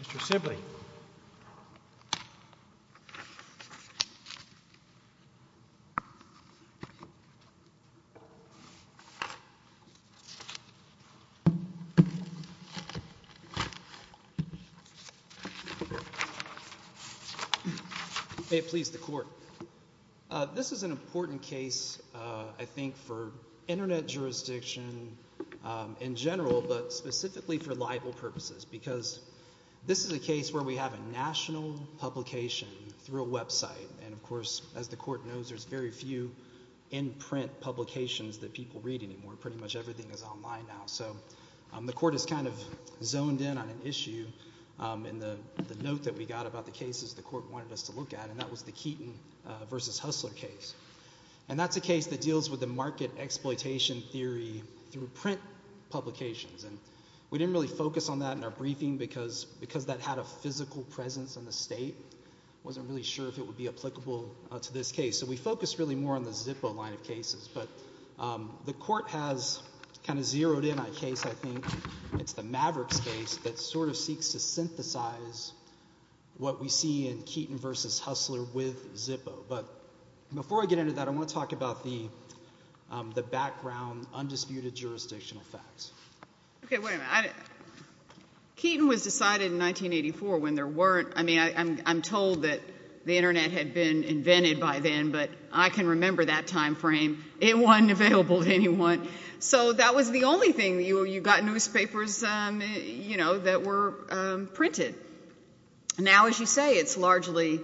Mr. Sibley. May it please the Court. This is an important case, I think, for Internet jurisdiction in general, but specifically for libel purposes. Because this is a case where we have a national publication through a website. And, of course, as the Court knows, there's very few in-print publications that people read anymore. Pretty much everything is online now. So the Court has kind of zoned in on an issue, and the note that we got about the case is the Court wanted us to look at. And that was the Keaton v. Hustler case. And that's a case that deals with the market exploitation theory through print publications. And we didn't really focus on that in our briefing because that had a physical presence in the state. I wasn't really sure if it would be applicable to this case. So we focused really more on the Zippo line of cases. But the Court has kind of zeroed in on a case, I think, it's the Mavericks case, that sort of seeks to synthesize what we see in Keaton v. Hustler with Zippo. But before I get into that, I want to talk about the background, undisputed jurisdictional facts. Okay, wait a minute. Keaton was decided in 1984 when there weren't – I mean, I'm told that the Internet had been invented by then, but I can remember that time frame. It wasn't available to anyone. So that was the only thing. You got newspapers, you know, that were printed. Now, as you say, it's largely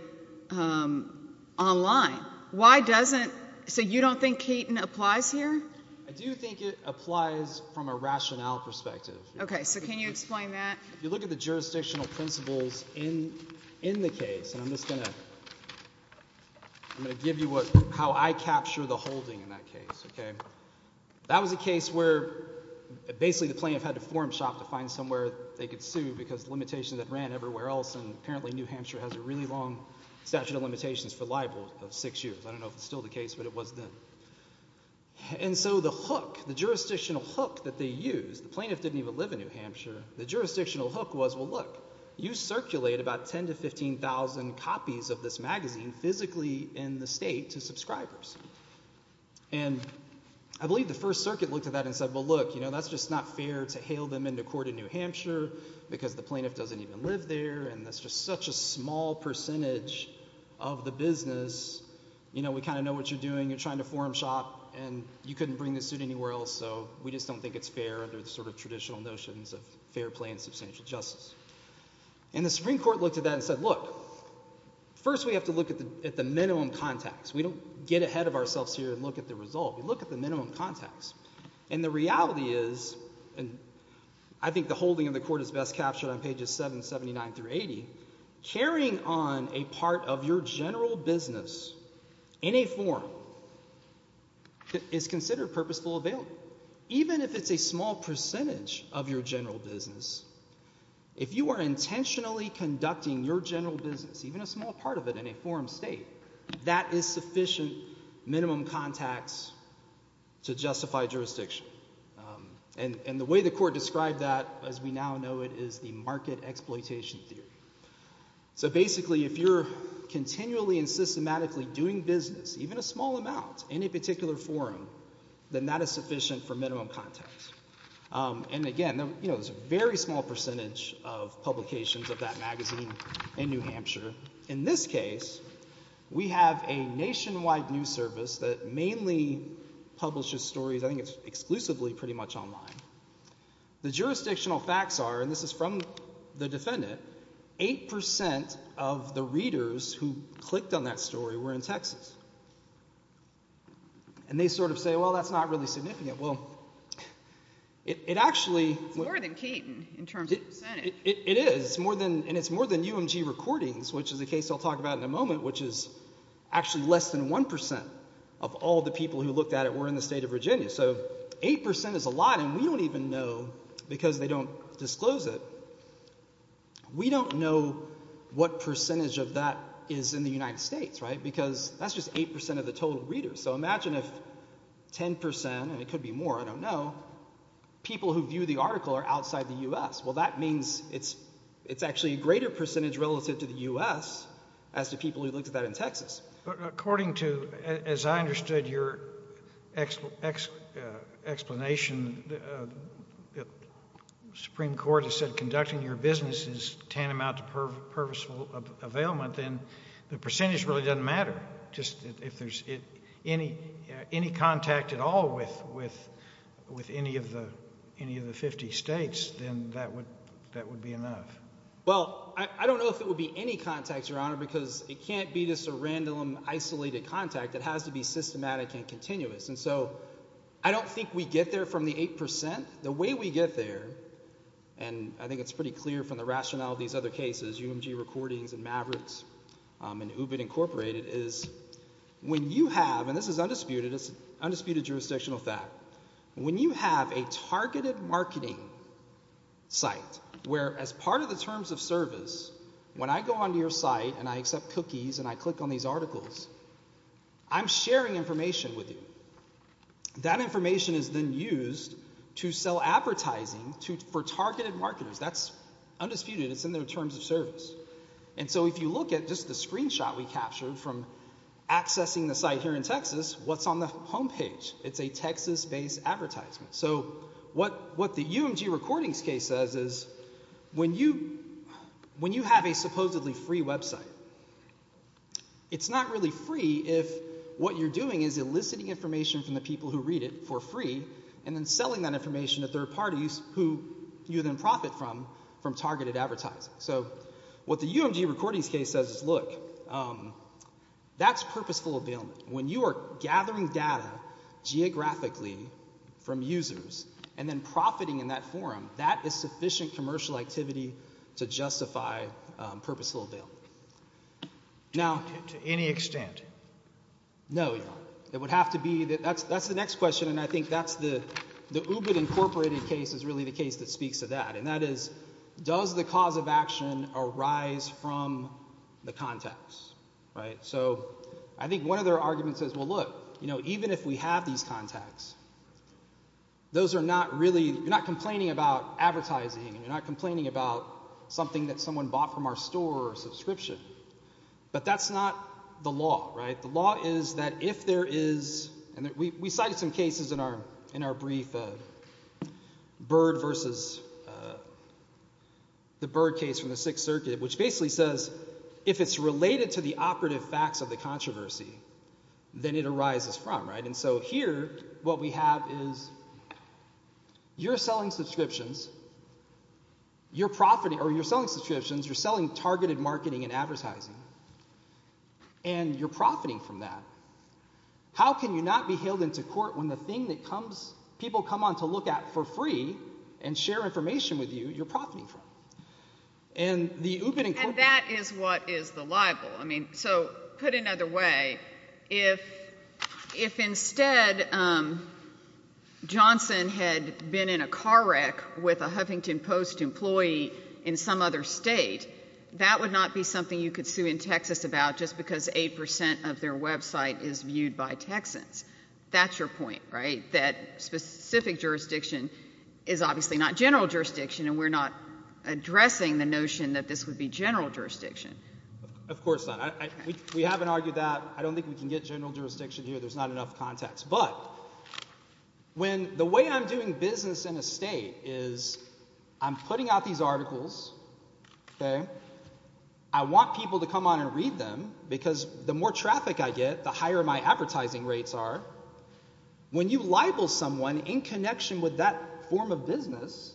online. Why doesn't – so you don't think Keaton applies here? I do think it applies from a rationale perspective. Okay, so can you explain that? If you look at the jurisdictional principles in the case, and I'm just going to – I'm going to give you how I capture the holding in that case. That was a case where basically the plaintiff had to form shop to find somewhere they could sue because the limitations had ran everywhere else, and apparently New Hampshire has a really long statute of limitations for libel of six years. I don't know if it's still the case, but it was then. And so the hook, the jurisdictional hook that they used, the plaintiff didn't even live in New Hampshire. The jurisdictional hook was, well, look, you circulate about 10,000 to 15,000 copies of this magazine physically in the state to subscribers. And I believe the First Circuit looked at that and said, well, look, that's just not fair to hail them into court in New Hampshire because the plaintiff doesn't even live there, and that's just such a small percentage of the business. We kind of know what you're doing. You're trying to form shop, and you couldn't bring the suit anywhere else, so we just don't think it's fair under the sort of traditional notions of fair play and substantial justice. And the Supreme Court looked at that and said, look, first we have to look at the minimum contacts. We don't get ahead of ourselves here and look at the result. We look at the minimum contacts. And the reality is, and I think the holding of the court is best captured on pages 7, 79 through 80, carrying on a part of your general business in a forum is considered purposeful available. Even if it's a small percentage of your general business, if you are intentionally conducting your general business, even a small part of it in a forum state, that is sufficient minimum contacts to justify jurisdiction. And the way the court described that, as we now know it, is the market exploitation theory. So basically if you're continually and systematically doing business, even a small amount, in a particular forum, then that is sufficient for minimum contacts. And again, there's a very small percentage of publications of that magazine in New Hampshire. In this case, we have a nationwide news service that mainly publishes stories. I think it's exclusively pretty much online. The jurisdictional facts are, and this is from the defendant, 8% of the readers who clicked on that story were in Texas. And they sort of say, well, that's not really significant. Well, it actually… It's more than Keaton in terms of percentage. It is. And it's more than UMG Recordings, which is a case I'll talk about in a moment, which is actually less than 1% of all the people who looked at it were in the state of Virginia. So 8% is a lot, and we don't even know, because they don't disclose it, we don't know what percentage of that is in the United States, right? Because that's just 8% of the total readers. So imagine if 10%, and it could be more, I don't know, people who view the article are outside the U.S. Well, that means it's actually a greater percentage relative to the U.S. as to people who looked at that in Texas. But according to, as I understood your explanation, the Supreme Court has said conducting your business is tantamount to purposeful availment, then the percentage really doesn't matter. If there's any contact at all with any of the 50 states, then that would be enough. Well, I don't know if it would be any contact, Your Honor, because it can't be just a random isolated contact. It has to be systematic and continuous. And so I don't think we get there from the 8%. The way we get there, and I think it's pretty clear from the rationale of these other cases, UMG Recordings and Mavericks and UBIT Incorporated, is when you have, and this is undisputed, it's an undisputed jurisdictional fact, when you have a targeted marketing site where as part of the terms of service, when I go onto your site and I accept cookies and I click on these articles, I'm sharing information with you. That information is then used to sell advertising for targeted marketers. That's undisputed. It's in their terms of service. And so if you look at just the screenshot we captured from accessing the site here in Texas, what's on the home page? It's a Texas-based advertisement. So what the UMG Recordings case says is when you have a supposedly free website, it's not really free if what you're doing is eliciting information from the people who read it for free and then selling that information to third parties who you then profit from from targeted advertising. So what the UMG Recordings case says is, look, that's purposeful availment. When you are gathering data geographically from users and then profiting in that forum, that is sufficient commercial activity to justify purposeful availment. To any extent? No, you're not. It would have to be. That's the next question. And I think the UBIT Incorporated case is really the case that speaks to that. And that is, does the cause of action arise from the contacts? So I think one of their arguments is, well, look, even if we have these contacts, you're not complaining about advertising. You're not complaining about something that someone bought from our store or subscription. But that's not the law. The law is that if there is—and we cited some cases in our brief, Bird versus the Bird case from the Sixth Circuit, which basically says if it's related to the operative facts of the controversy, then it arises from. And so here what we have is you're selling subscriptions, you're selling targeted marketing and advertising, and you're profiting from that. How can you not be hailed into court when the thing that people come on to look at for free and share information with you, you're profiting from? And the UBIT Incorporated— And that is what is the libel. So put another way, if instead Johnson had been in a car wreck with a Huffington Post employee in some other state, that would not be something you could sue in Texas about just because 8 percent of their website is viewed by Texans. That's your point, right, that specific jurisdiction is obviously not general jurisdiction, and we're not addressing the notion that this would be general jurisdiction. Of course not. We haven't argued that. I don't think we can get general jurisdiction here. There's not enough context. But when the way I'm doing business in a state is I'm putting out these articles, I want people to come on and read them because the more traffic I get, the higher my advertising rates are. When you libel someone in connection with that form of business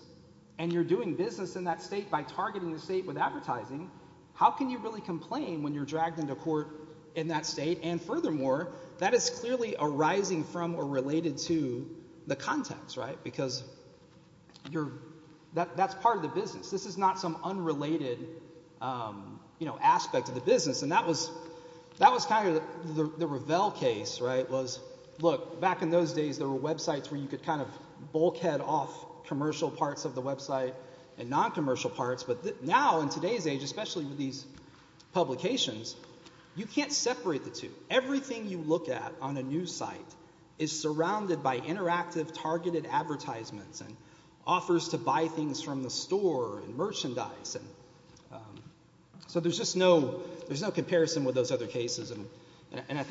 and you're doing business in that state by targeting the state with advertising, how can you really complain when you're dragged into court in that state? And furthermore, that is clearly arising from or related to the context, right, because that's part of the business. This is not some unrelated aspect of the business. And that was kind of the Revell case, right, was look, back in those days there were websites where you could kind of bulkhead off commercial parts of the website and non-commercial parts. But now in today's age, especially with these publications, you can't separate the two. Everything you look at on a news site is surrounded by interactive targeted advertisements and offers to buy things from the store and merchandise. So there's just no comparison with those other cases. And I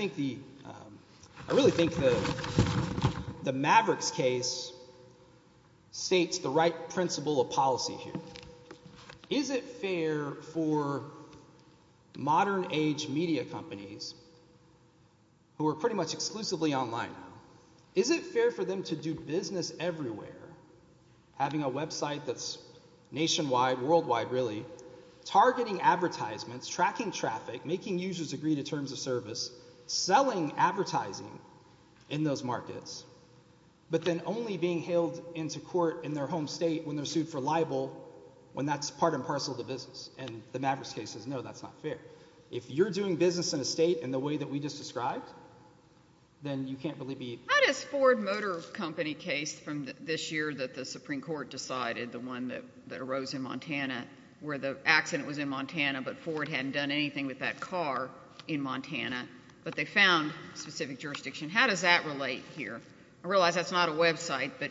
really think the Mavericks case states the right principle of policy here. Is it fair for modern age media companies who are pretty much exclusively online, is it fair for them to do business everywhere, having a website that's nationwide, worldwide really, targeting advertisements, tracking traffic, making users agree to terms of service, selling advertising in those markets, but then only being hailed into court in their home state when they're sued for libel when that's part and parcel of the business? And the Mavericks case says no, that's not fair. If you're doing business in a state in the way that we just described, then you can't really be— How does Ford Motor Company case from this year that the Supreme Court decided, the one that arose in Montana where the accident was in Montana but Ford hadn't done anything with that car in Montana, but they found specific jurisdiction, how does that relate here? I realize that's not a website, but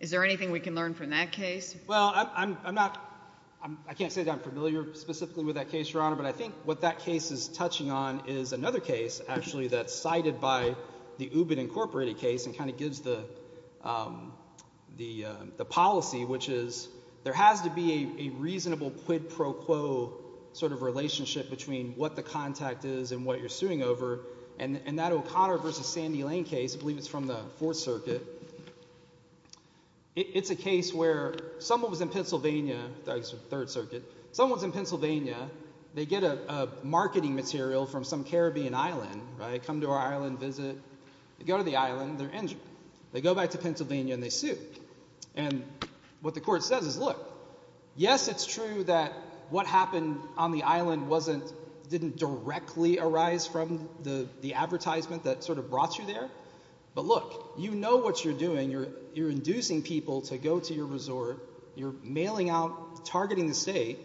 is there anything we can learn from that case? Well, I'm not—I can't say that I'm familiar specifically with that case, Your Honor, but I think what that case is touching on is another case, actually, that's cited by the Ubin Incorporated case and kind of gives the policy, which is there has to be a reasonable quid pro quo sort of relationship between what the contact is and what you're suing over. And that O'Connor v. Sandy Lane case, I believe it's from the Fourth Circuit, it's a case where someone was in Pennsylvania—sorry, it's the Third Circuit— someone's in Pennsylvania, they get a marketing material from some Caribbean island, come to our island, visit, they go to the island, they're injured. They go back to Pennsylvania and they sue. And what the court says is, look, yes, it's true that what happened on the island didn't directly arise from the advertisement that sort of brought you there, but look, you know what you're doing, you're inducing people to go to your resort, you're mailing out, targeting the state,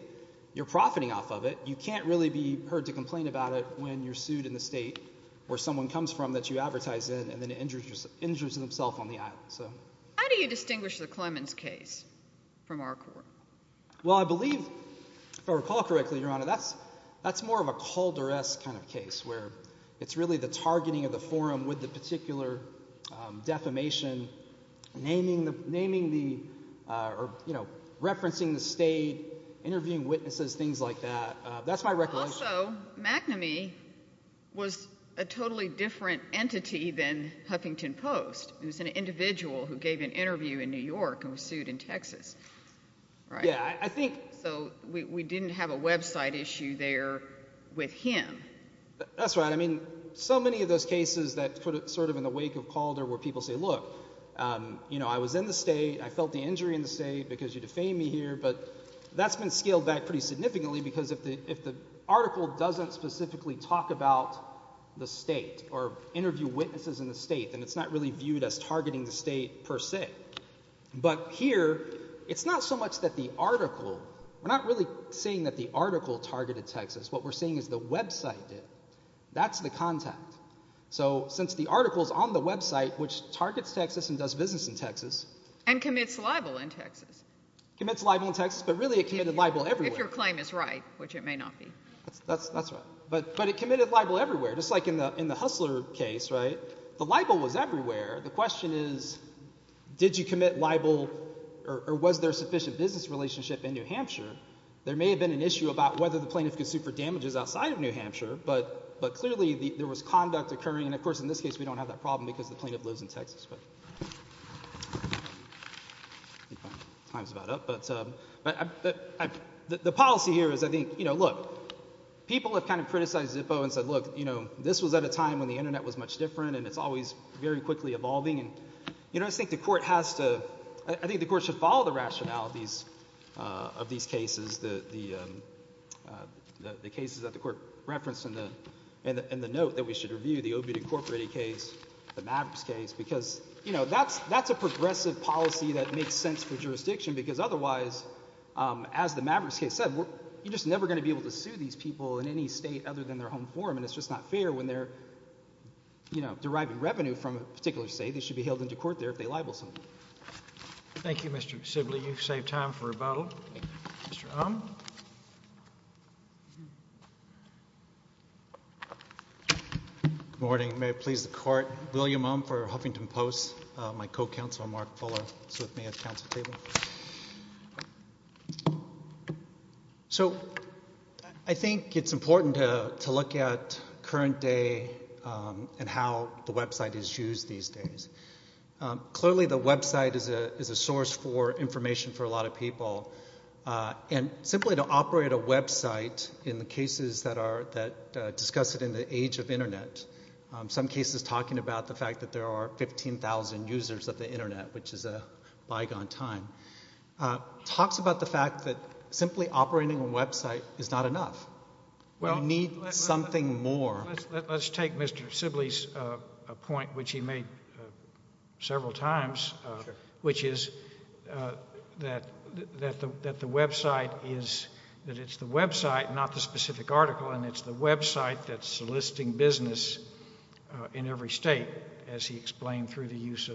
you're profiting off of it, you can't really be heard to complain about it when you're sued in the state where someone comes from that you advertise in and then injures themselves on the island. How do you distinguish the Clemens case from our court? Well, I believe, if I recall correctly, Your Honor, that's more of a Calder-esque kind of case where it's really the targeting of the forum with the particular defamation, naming the, you know, referencing the state, interviewing witnesses, things like that. That's my recollection. Also, McNamee was a totally different entity than Huffington Post. It was an individual who gave an interview in New York and was sued in Texas, right? Yeah, I think. So we didn't have a website issue there with him. That's right. I mean, so many of those cases that sort of in the wake of Calder where people say, look, you know, I was in the state, I felt the injury in the state because you defamed me here, but that's been scaled back pretty significantly because if the article doesn't specifically talk about the state or interview witnesses in the state, then it's not really viewed as targeting the state per se. But here, it's not so much that the article, we're not really saying that the article targeted Texas. What we're saying is the website did. That's the contact. So since the article's on the website, which targets Texas and does business in Texas. And commits libel in Texas. Commits libel in Texas, but really it committed libel everywhere. If your claim is right, which it may not be. That's right. But it committed libel everywhere, just like in the Hustler case, right? The libel was everywhere. The question is did you commit libel or was there a sufficient business relationship in New Hampshire? There may have been an issue about whether the plaintiff could sue for damages outside of New Hampshire, but clearly there was conduct occurring. And of course in this case, we don't have that problem because the plaintiff lives in Texas. But time's about up. But the policy here is I think, you know, look. People have kind of criticized Zippo and said, look, you know, this was at a time when the Internet was much different and it's always very quickly evolving. You know, I think the court has to, I think the court should follow the rationalities of these cases. The cases that the court referenced in the note that we should review. The Obed Incorporated case. The Mavericks case. Because, you know, that's a progressive policy that makes sense for jurisdiction. Because otherwise, as the Mavericks case said, you're just never going to be able to sue these people in any state other than their home forum. And it's just not fair when they're, you know, deriving revenue from a particular state. They should be held into court there if they libel someone. Thank you, Mr. Sibley. You've saved time for a vote. Mr. Uhm. Good morning. May it please the court. William Uhm for Huffington Post. My co-counsel Mark Fuller is with me at the council table. So I think it's important to look at current day and how the website is used these days. Clearly the website is a source for information for a lot of people. And simply to operate a website in the cases that discuss it in the age of Internet. Some cases talking about the fact that there are 15,000 users of the Internet, which is a bygone time. Talks about the fact that simply operating a website is not enough. We need something more. Let's take Mr. Sibley's point, which he made several times. Which is that the website is, that it's the website, not the specific article. And it's the website that's soliciting business in every state, as he explained, through the use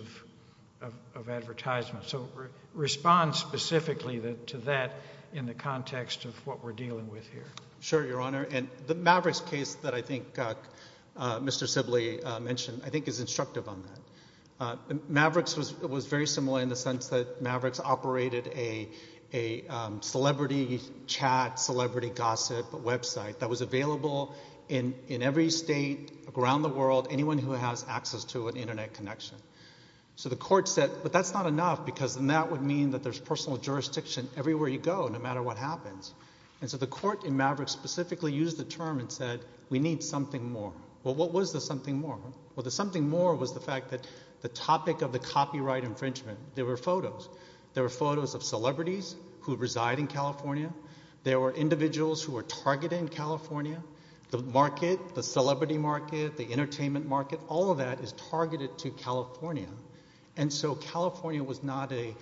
of advertisement. So respond specifically to that in the context of what we're dealing with here. Sure, Your Honor. And the Mavericks case that I think Mr. Sibley mentioned I think is instructive on that. Mavericks was very similar in the sense that Mavericks operated a celebrity chat, celebrity gossip website. That was available in every state around the world, anyone who has access to an Internet connection. So the court said, but that's not enough. Because then that would mean that there's personal jurisdiction everywhere you go, no matter what happens. And so the court in Mavericks specifically used the term and said, we need something more. Well, what was the something more? Well, the something more was the fact that the topic of the copyright infringement, there were photos. There were photos of celebrities who reside in California. There were individuals who were targeted in California. The market, the celebrity market, the entertainment market, all of that is targeted to California. And so California was not a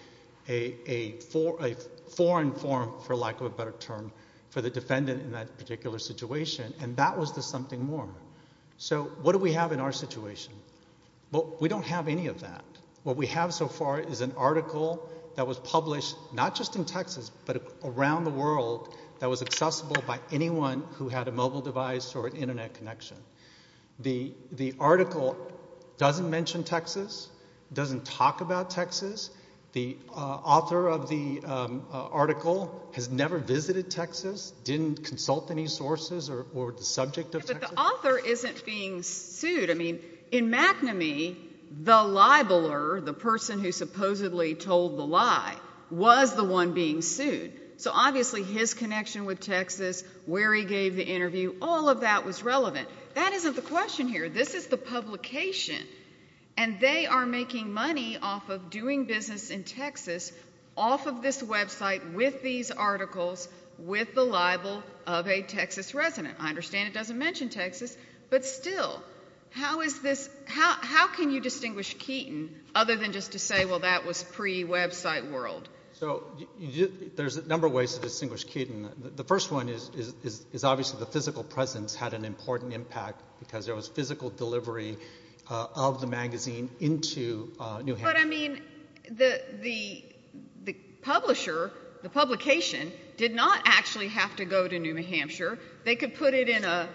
foreign forum, for lack of a better term, for the defendant in that particular situation. And that was the something more. So what do we have in our situation? Well, we don't have any of that. What we have so far is an article that was published not just in Texas, but around the world, that was accessible by anyone who had a mobile device or an Internet connection. The article doesn't mention Texas, doesn't talk about Texas. The author of the article has never visited Texas, didn't consult any sources or the subject of Texas. But the author isn't being sued. I mean, in McNamee, the libeler, the person who supposedly told the lie, was the one being sued. So obviously his connection with Texas, where he gave the interview, all of that was relevant. That isn't the question here. This is the publication. And they are making money off of doing business in Texas off of this Web site with these articles, with the libel of a Texas resident. I understand it doesn't mention Texas. But still, how can you distinguish Keaton other than just to say, well, that was pre-Web site world? So there's a number of ways to distinguish Keaton. The first one is obviously the physical presence had an important impact because there was physical delivery of the magazine into New Hampshire. But, I mean, the publisher, the publication, did not actually have to go to New Hampshire. They could put it in a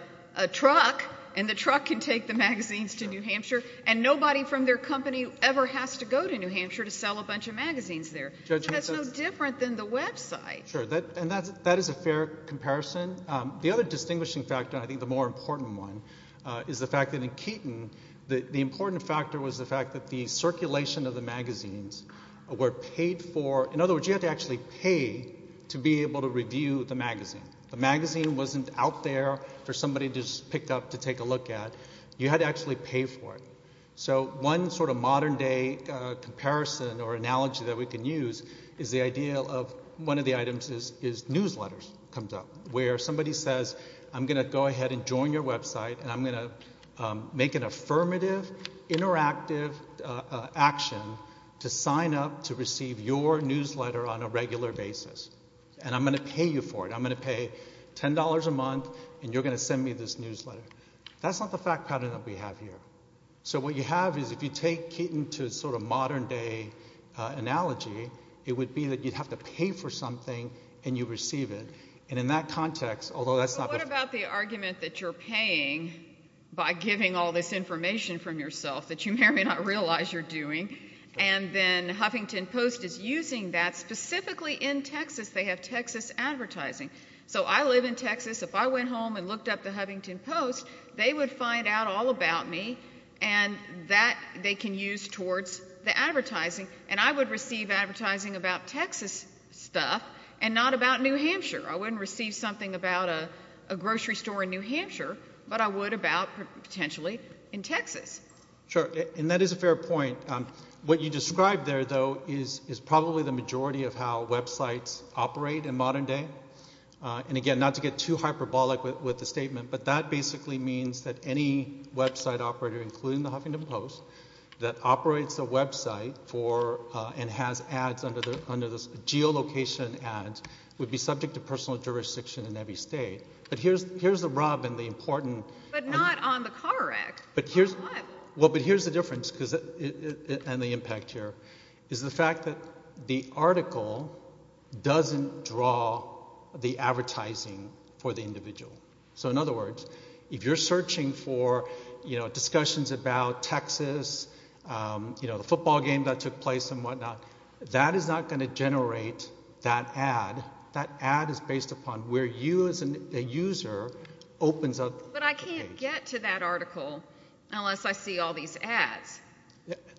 truck, and the truck can take the magazines to New Hampshire, and nobody from their company ever has to go to New Hampshire to sell a bunch of magazines there. That's no different than the Web site. Sure, and that is a fair comparison. The other distinguishing factor, and I think the more important one, is the fact that in Keaton, the important factor was the fact that the circulation of the magazines were paid for. In other words, you had to actually pay to be able to review the magazine. The magazine wasn't out there for somebody to just pick up to take a look at. You had to actually pay for it. So one sort of modern-day comparison or analogy that we can use is the idea of one of the items is newsletters comes up, where somebody says, I'm going to go ahead and join your Web site, and I'm going to make an affirmative, interactive action to sign up to receive your newsletter on a regular basis. And I'm going to pay you for it. I'm going to pay $10 a month, and you're going to send me this newsletter. That's not the fact pattern that we have here. So what you have is if you take Keaton to a sort of modern-day analogy, it would be that you'd have to pay for something, and you receive it. And in that context, although that's not the – But what about the argument that you're paying by giving all this information from yourself that you may or may not realize you're doing, and then Huffington Post is using that. Specifically in Texas, they have Texas advertising. So I live in Texas. If I went home and looked up the Huffington Post, they would find out all about me, and that they can use towards the advertising. And I would receive advertising about Texas stuff and not about New Hampshire. I wouldn't receive something about a grocery store in New Hampshire, but I would about potentially in Texas. Sure, and that is a fair point. What you describe there, though, is probably the majority of how websites operate in modern day. And again, not to get too hyperbolic with the statement, but that basically means that any website operator, including the Huffington Post, that operates a website for and has ads under the geolocation ads would be subject to personal jurisdiction in every state. But here's the rub and the important – But not on the car wreck. Well, but here's the difference and the impact here, is the fact that the article doesn't draw the advertising for the individual. So in other words, if you're searching for discussions about Texas, the football game that took place and whatnot, that is not going to generate that ad. That ad is based upon where you as a user opens up the page. But I can't get to that article unless I see all these ads.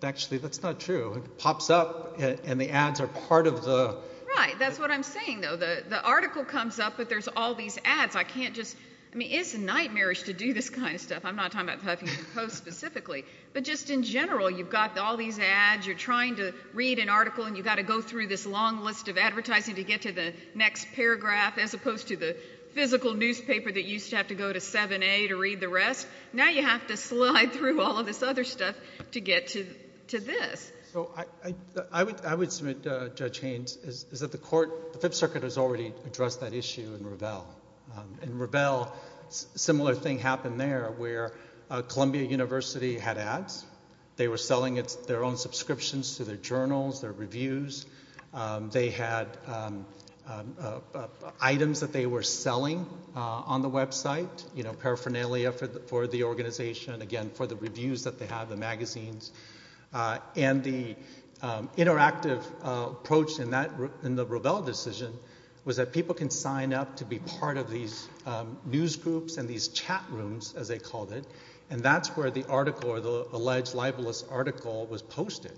Actually, that's not true. It pops up and the ads are part of the – Right, that's what I'm saying, though. The article comes up, but there's all these ads. I can't just – I mean, it's nightmarish to do this kind of stuff. I'm not talking about the Huffington Post specifically. But just in general, you've got all these ads, you're trying to read an article, and you've got to go through this long list of advertising to get to the next paragraph as opposed to the physical newspaper that used to have to go to 7A to read the rest. Now you have to slide through all of this other stuff to get to this. I would submit, Judge Haynes, is that the court – the Fifth Circuit has already addressed that issue in Revelle. In Revelle, a similar thing happened there where Columbia University had ads. They were selling their own subscriptions to their journals, their reviews. They had items that they were selling on the website, paraphernalia for the organization, again, for the reviews that they have, the magazines. And the interactive approach in the Revelle decision was that people can sign up to be part of these newsgroups and these chat rooms, as they called it, and that's where the article or the alleged libelous article was posted.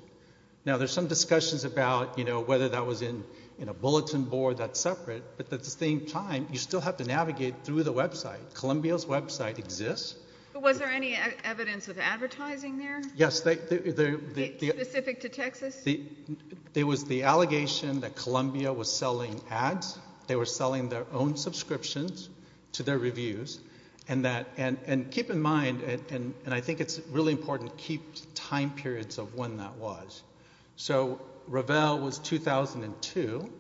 Now there's some discussions about whether that was in a bulletin board that's separate, but at the same time you still have to navigate through the website. Columbia's website exists. But was there any evidence of advertising there? Yes. Specific to Texas? There was the allegation that Columbia was selling ads. They were selling their own subscriptions to their reviews. And keep in mind, and I think it's really important to keep time periods of when that was. So Revelle was 2002,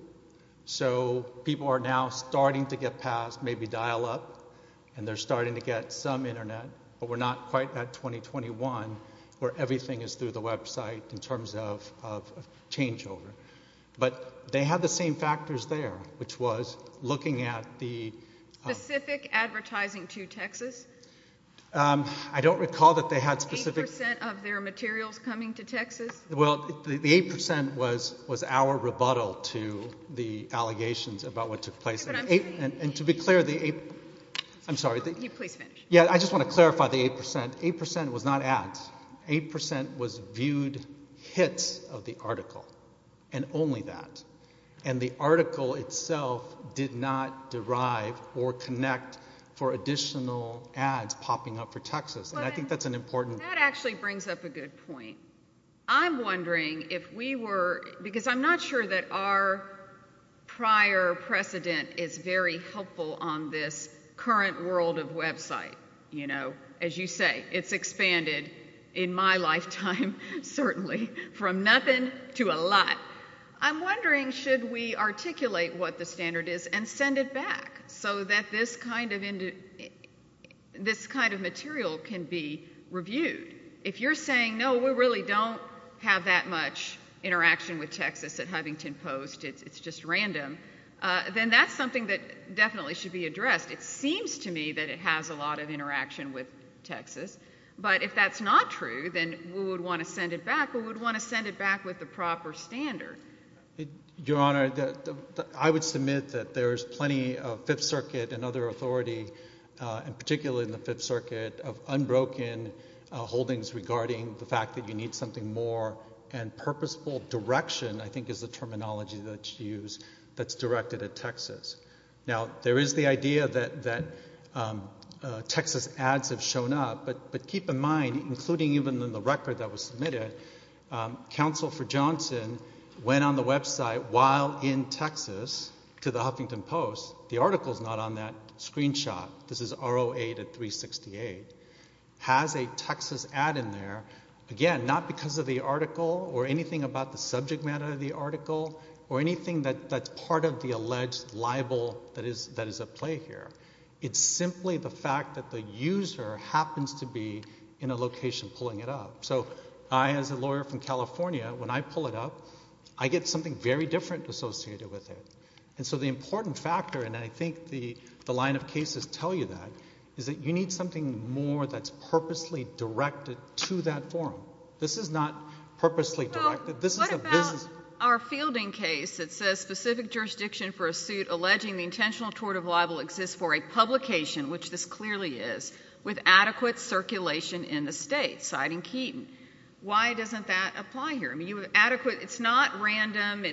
so people are now starting to get past maybe dial-up and they're starting to get some Internet, but we're not quite at 2021 where everything is through the website in terms of changeover. But they had the same factors there, which was looking at the— Specific advertising to Texas? I don't recall that they had specific— Eight percent of their materials coming to Texas? Well, the eight percent was our rebuttal to the allegations about what took place. And to be clear, the eight—I'm sorry. Please finish. Yeah, I just want to clarify the eight percent. Eight percent was not ads. Eight percent was viewed hits of the article, and only that. And the article itself did not derive or connect for additional ads popping up for Texas. And I think that's an important— That actually brings up a good point. I'm wondering if we were—because I'm not sure that our prior precedent is very helpful on this current world of website. As you say, it's expanded in my lifetime, certainly, from nothing to a lot. I'm wondering, should we articulate what the standard is and send it back so that this kind of material can be reviewed? If you're saying, no, we really don't have that much interaction with Texas at Huffington Post, it's just random, then that's something that definitely should be addressed. It seems to me that it has a lot of interaction with Texas. But if that's not true, then we would want to send it back. We would want to send it back with the proper standard. Your Honor, I would submit that there is plenty of Fifth Circuit and other authority, and particularly in the Fifth Circuit, of unbroken holdings regarding the fact that you need something more. And purposeful direction, I think, is the terminology that's used, that's directed at Texas. Now, there is the idea that Texas ads have shown up, but keep in mind, including even in the record that was submitted, Counsel for Johnson went on the website while in Texas to the Huffington Post. The article's not on that screenshot. This is R08 at 368. Has a Texas ad in there, again, not because of the article or anything about the subject matter of the article or anything that's part of the alleged libel that is at play here. It's simply the fact that the user happens to be in a location pulling it up. So I, as a lawyer from California, when I pull it up, I get something very different associated with it. And so the important factor, and I think the line of cases tell you that, is that you need something more that's purposely directed to that forum. This is not purposely directed. What about our fielding case that says, specific jurisdiction for a suit alleging the intentional tort of libel exists for a publication, which this clearly is, with adequate circulation in the state, citing Keaton. Why doesn't that apply here? It's not random.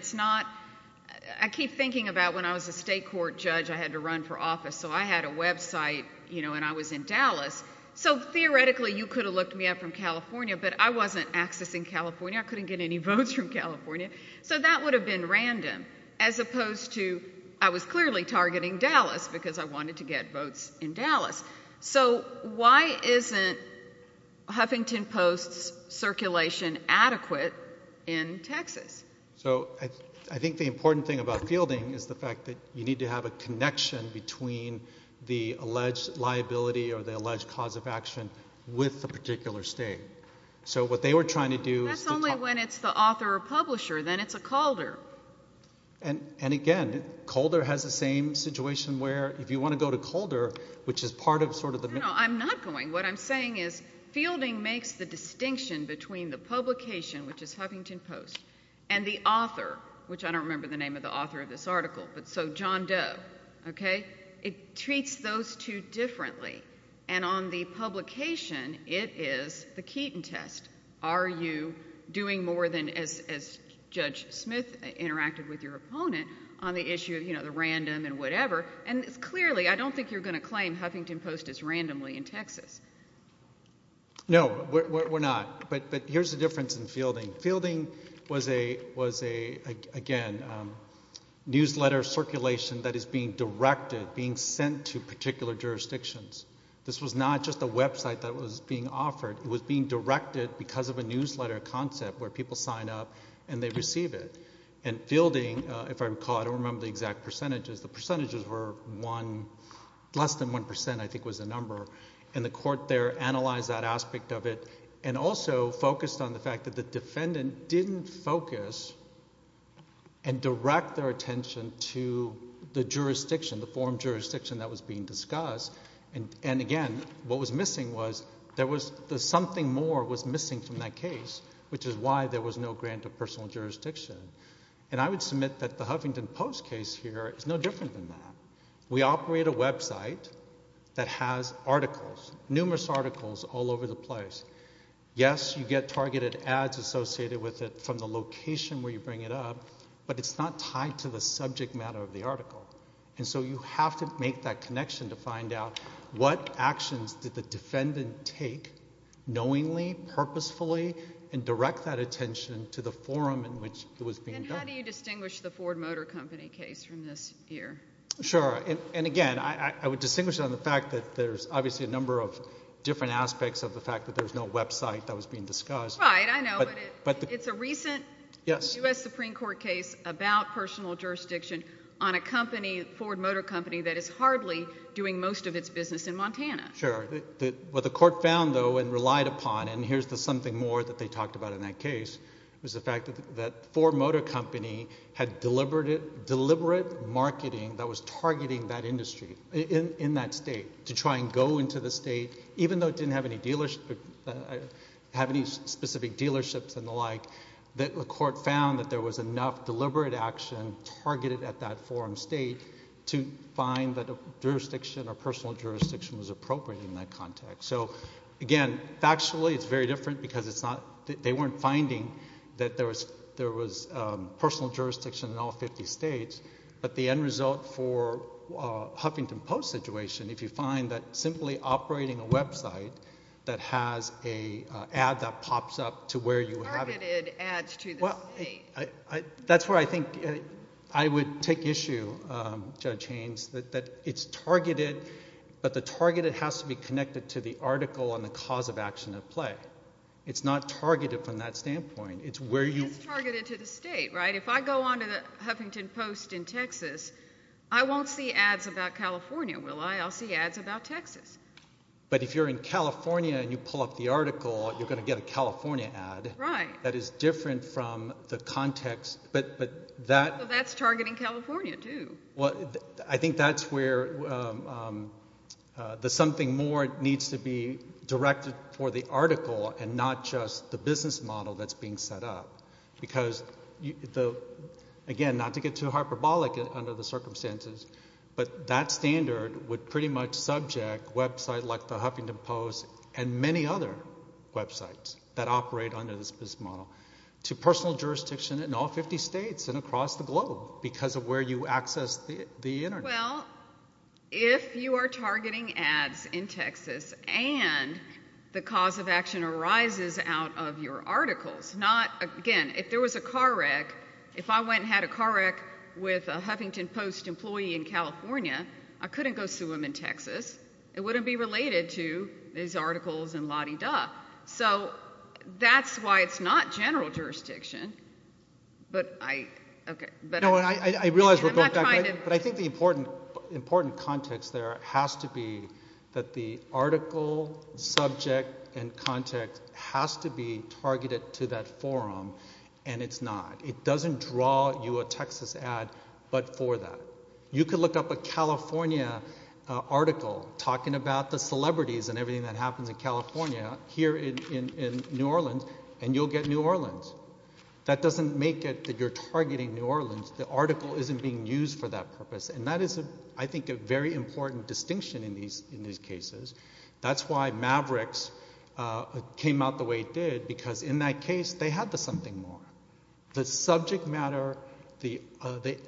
I keep thinking about when I was a state court judge, I had to run for office, so I had a website, you know, and I was in Dallas. So theoretically you could have looked me up from California, but I wasn't accessing California. I couldn't get any votes from California. So that would have been random, as opposed to, I was clearly targeting Dallas because I wanted to get votes in Dallas. So why isn't Huffington Post's circulation adequate in Texas? So I think the important thing about fielding is the fact that you need to have a connection between the alleged liability or the alleged cause of action with the particular state. So what they were trying to do is to talk. That's only when it's the author or publisher. Then it's a Calder. And again, Calder has the same situation where if you want to go to Calder, which is part of sort of the... No, no, no, I'm not going. What I'm saying is fielding makes the distinction between the publication, which is Huffington Post, and the author, which I don't remember the name of the author of this article, but so John Doe, okay? It treats those two differently. And on the publication, it is the Keaton test. Are you doing more than, as Judge Smith interacted with your opponent, on the issue of the random and whatever? And clearly, I don't think you're going to claim Huffington Post is randomly in Texas. No, we're not. But here's the difference in fielding. Fielding was a, again, newsletter circulation that is being directed, being sent to particular jurisdictions. This was not just a website that was being offered. It was being directed because of a newsletter concept where people sign up and they receive it. And fielding, if I recall, I don't remember the exact percentages. The percentages were less than 1%, I think was the number. And the court there analyzed that aspect of it and also focused on the fact that the defendant didn't focus and direct their attention to the jurisdiction, the forum jurisdiction that was being discussed. And again, what was missing was there was something more was missing from that case, which is why there was no grant of personal jurisdiction. And I would submit that the Huffington Post case here is no different than that. We operate a website that has articles, numerous articles, all over the place. Yes, you get targeted ads associated with it from the location where you bring it up, but it's not tied to the subject matter of the article. And so you have to make that connection to find out what actions did the defendant take knowingly, purposefully, and direct that attention to the forum in which it was being done. And how do you distinguish the Ford Motor Company case from this here? Sure, and again, I would distinguish it on the fact that there's obviously a number of different aspects of the fact that there's no website that was being discussed. Right, I know, but it's a recent U.S. Supreme Court case about personal jurisdiction on a company, Ford Motor Company, that is hardly doing most of its business in Montana. Sure. What the court found, though, and relied upon, and here's the something more that they talked about in that case, was the fact that Ford Motor Company had deliberate marketing that was targeting that industry in that state to try and go into the state, even though it didn't have any dealership, have any specific dealerships and the like, that the court found that there was enough deliberate action targeted at that forum state to find that a jurisdiction or personal jurisdiction was appropriate in that context. So, again, factually, it's very different because they weren't finding that there was personal jurisdiction in all 50 states, but the end result for Huffington Post's situation, if you find that simply operating a website that has an ad that pops up to where you have it... Well, that's where I think I would take issue, Judge Haynes, that it's targeted, but the targeted has to be connected to the article and the cause of action at play. It's not targeted from that standpoint. It's where you... It's targeted to the state, right? If I go on to the Huffington Post in Texas, I won't see ads about California, will I? But if you're in California and you pull up the article, you're going to get a California ad... Right. ..that is different from the context... But that... Well, that's targeting California, too. Well, I think that's where the something more needs to be directed for the article and not just the business model that's being set up, because, again, not to get too hyperbolic under the circumstances, but that standard would pretty much subject websites like the Huffington Post and many other websites that operate under this business model to personal jurisdiction in all 50 states and across the globe because of where you access the Internet. Well, if you are targeting ads in Texas and the cause of action arises out of your articles, not... Again, if there was a car wreck... If I went and had a car wreck with a Huffington Post employee in California, I couldn't go sue him in Texas. It wouldn't be related to his articles and la-di-da. So that's why it's not general jurisdiction. But I... OK. No, I realise we're going back, but I think the important context there has to be that the article, subject and context has to be targeted to that forum, and it's not. It doesn't draw you a Texas ad but for that. You could look up a California article talking about the celebrities and everything that happens in California here in New Orleans, and you'll get New Orleans. That doesn't make it that you're targeting New Orleans. The article isn't being used for that purpose. And that is, I think, a very important distinction in these cases. That's why Mavericks came out the way it did because in that case, they had the something more. The subject matter, the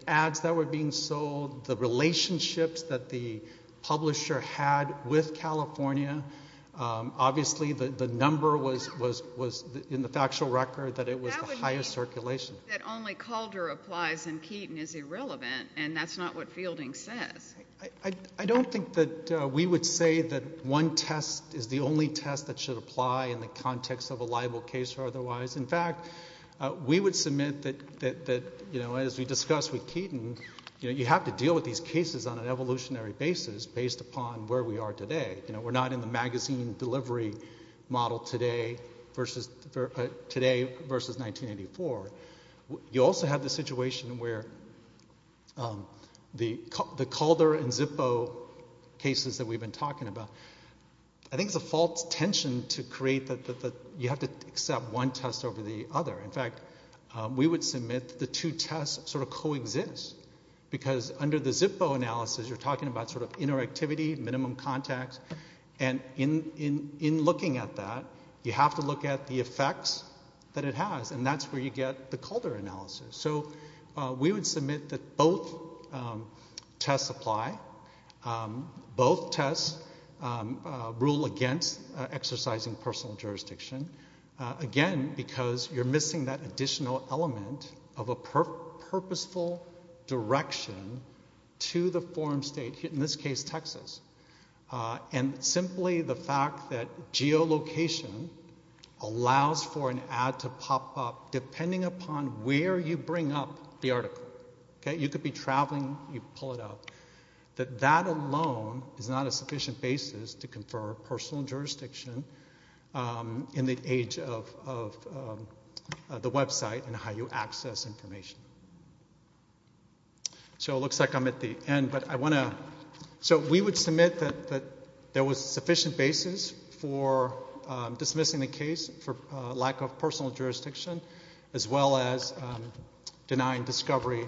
ads that were being sold, the relationships that the publisher had with California, obviously the number was in the factual record that it was the highest circulation. That only Calder applies and Keaton is irrelevant, and that's not what Fielding says. I don't think that we would say that one test is the only test that should apply in the context of a liable case or otherwise. In fact, we would submit that, as we discussed with Keaton, you have to deal with these cases on an evolutionary basis based upon where we are today. We're not in the magazine delivery model today versus 1984. You also have the situation where the Calder and Zippo cases that we've been talking about, I think it's a false tension to create that you have to accept one test over the other. In fact, we would submit that the two tests sort of coexist because under the Zippo analysis, you're talking about sort of interactivity, minimum context, and in looking at that, you have to look at the effects that it has, and that's where you get the Calder analysis. So we would submit that both tests apply. Both tests rule against exercising personal jurisdiction, again, because you're missing that additional element of a purposeful direction to the forum state, in this case, Texas, and simply the fact that geolocation allows for an ad to pop up depending upon where you bring up the article. You could be traveling, you pull it up. That alone is not a sufficient basis to confer personal jurisdiction in the age of the website and how you access information. So it looks like I'm at the end, but I want to... So we would submit that there was sufficient basis for dismissing the case for lack of personal jurisdiction as well as denying discovery,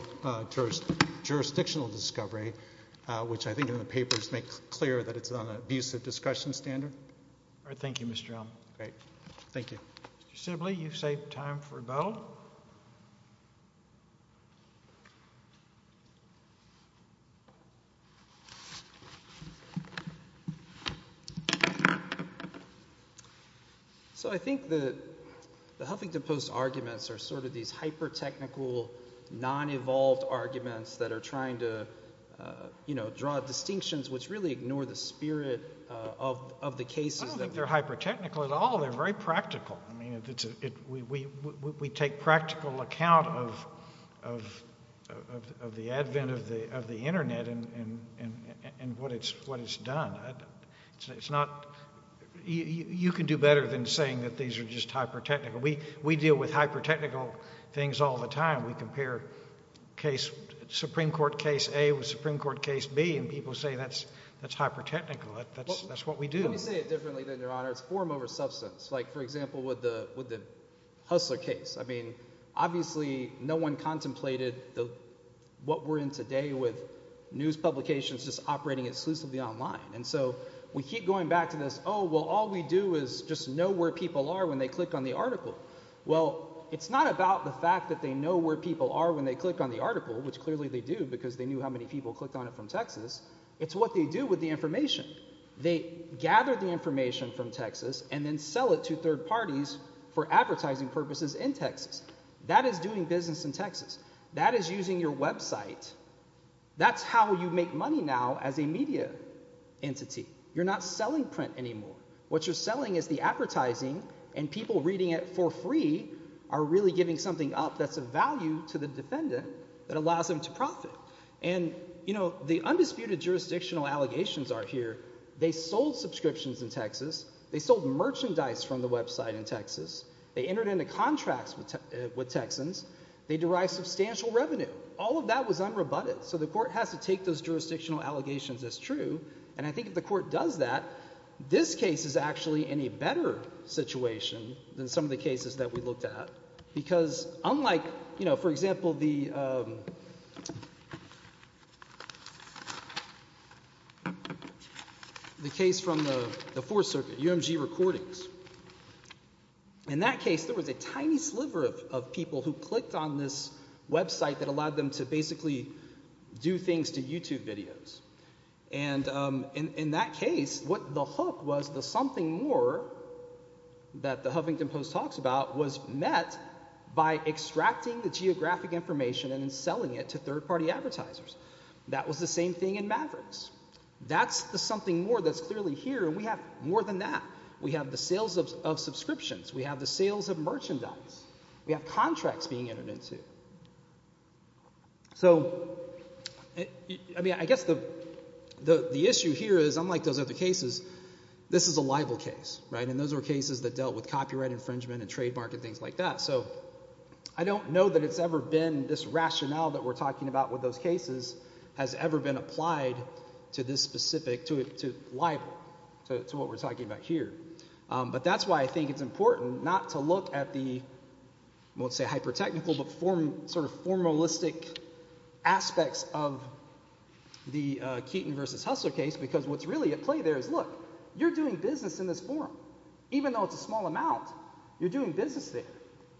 jurisdictional discovery, which I think in the papers make clear that it's on an abusive discussion standard. All right. Thank you, Mr. Elm. Great. Thank you. Mr. Sibley, you've saved time for a bow. So I think that the Huffington Post arguments are sort of these hyper-technical, non-evolved arguments that are trying to, you know, draw distinctions which really ignore the spirit of the cases... I don't think they're hyper-technical at all. and we try to make it as practical as possible. It's a practical account of the advent of the Internet and what it's done. It's not... You can do better than saying that these are just hyper-technical. We deal with hyper-technical things all the time. We compare Supreme Court Case A with Supreme Court Case B, and people say that's hyper-technical. That's what we do. Let me say it differently, then, Your Honour. It's form over substance. Like, for example, with the Hustler case. I mean, obviously no one contemplated what we're in today with news publications just operating exclusively online. And so we keep going back to this, oh, well, all we do is just know where people are when they click on the article. Well, it's not about the fact that they know where people are when they click on the article, which clearly they do because they knew how many people clicked on it from Texas. It's what they do with the information. They gather the information from Texas and then sell it to third parties for advertising purposes in Texas. That is doing business in Texas. That is using your website. That's how you make money now as a media entity. You're not selling print anymore. What you're selling is the advertising, and people reading it for free are really giving something up that's of value to the defendant that allows them to profit. And, you know, the undisputed jurisdictional allegations are here. They sold subscriptions in Texas. They sold merchandise from the website in Texas. They entered into contracts with Texans. They derive substantial revenue. All of that was unrebutted, so the court has to take those jurisdictional allegations as true, and I think if the court does that, this case is actually in a better situation than some of the cases that we looked at because unlike, you know, for example, the case from the Fourth Circuit, UMG Recordings, in that case there was a tiny sliver of people who clicked on this website that allowed them to basically do things to YouTube videos, and in that case what the hook was, the something more that the Huffington Post talks about was met by extracting the geographic information and then selling it to third-party advertisers. That was the same thing in Mavericks. That's the something more that's clearly here, and we have more than that. We have the sales of subscriptions. We have the sales of merchandise. We have contracts being entered into. So, I mean, I guess the issue here is, unlike those other cases, this is a libel case, right, and those are cases that dealt with copyright infringement and trademark and things like that. So I don't know that it's ever been this rationale that we're talking about with those cases has ever been applied to this specific, to libel, to what we're talking about here. But that's why I think it's important not to look at the, I won't say hyper-technical, but sort of formalistic aspects of the Keaton v. Hustler case because what's really at play there is, look, you're doing business in this forum. Even though it's a small amount, you're doing business there.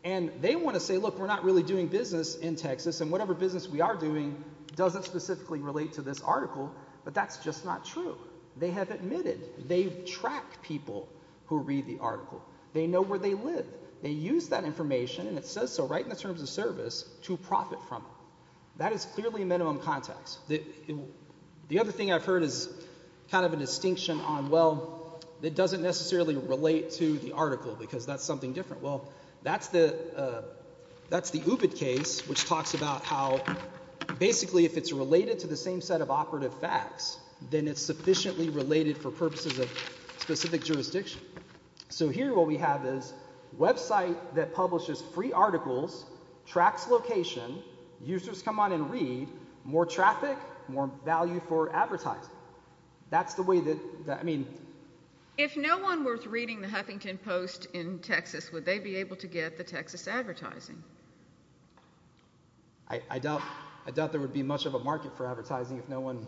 And they want to say, look, we're not really doing business in Texas, and whatever business we are doing doesn't specifically relate to this article, but that's just not true. They have admitted, they track people who read the article. They know where they live. They use that information, and it says so right in the terms of service, to profit from it. That is clearly minimum context. The other thing I've heard is kind of a distinction on, well, it doesn't necessarily relate to the article because that's something different. Well, that's the UBIT case, which talks about how basically if it's related to the same set of operative facts, then it's sufficiently related for purposes of specific jurisdiction. So here what we have is a website that publishes free articles, tracks location, users come on and read, more traffic, more value for advertising. That's the way that, I mean... If no one were reading the Huffington Post in Texas, would they be able to get the Texas advertising? I doubt there would be much of a market for advertising if no one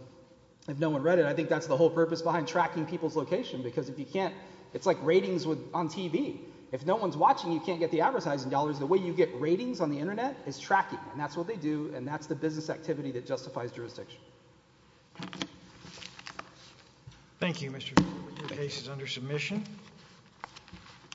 read it. I think that's the whole purpose behind tracking people's location because if you can't, it's like ratings on TV. If no one's watching, you can't get the advertising dollars. The way you get ratings on the Internet is tracking, and that's what they do, and that's the business activity that justifies jurisdiction. Thank you, Mr. Gould. Your case is under submission.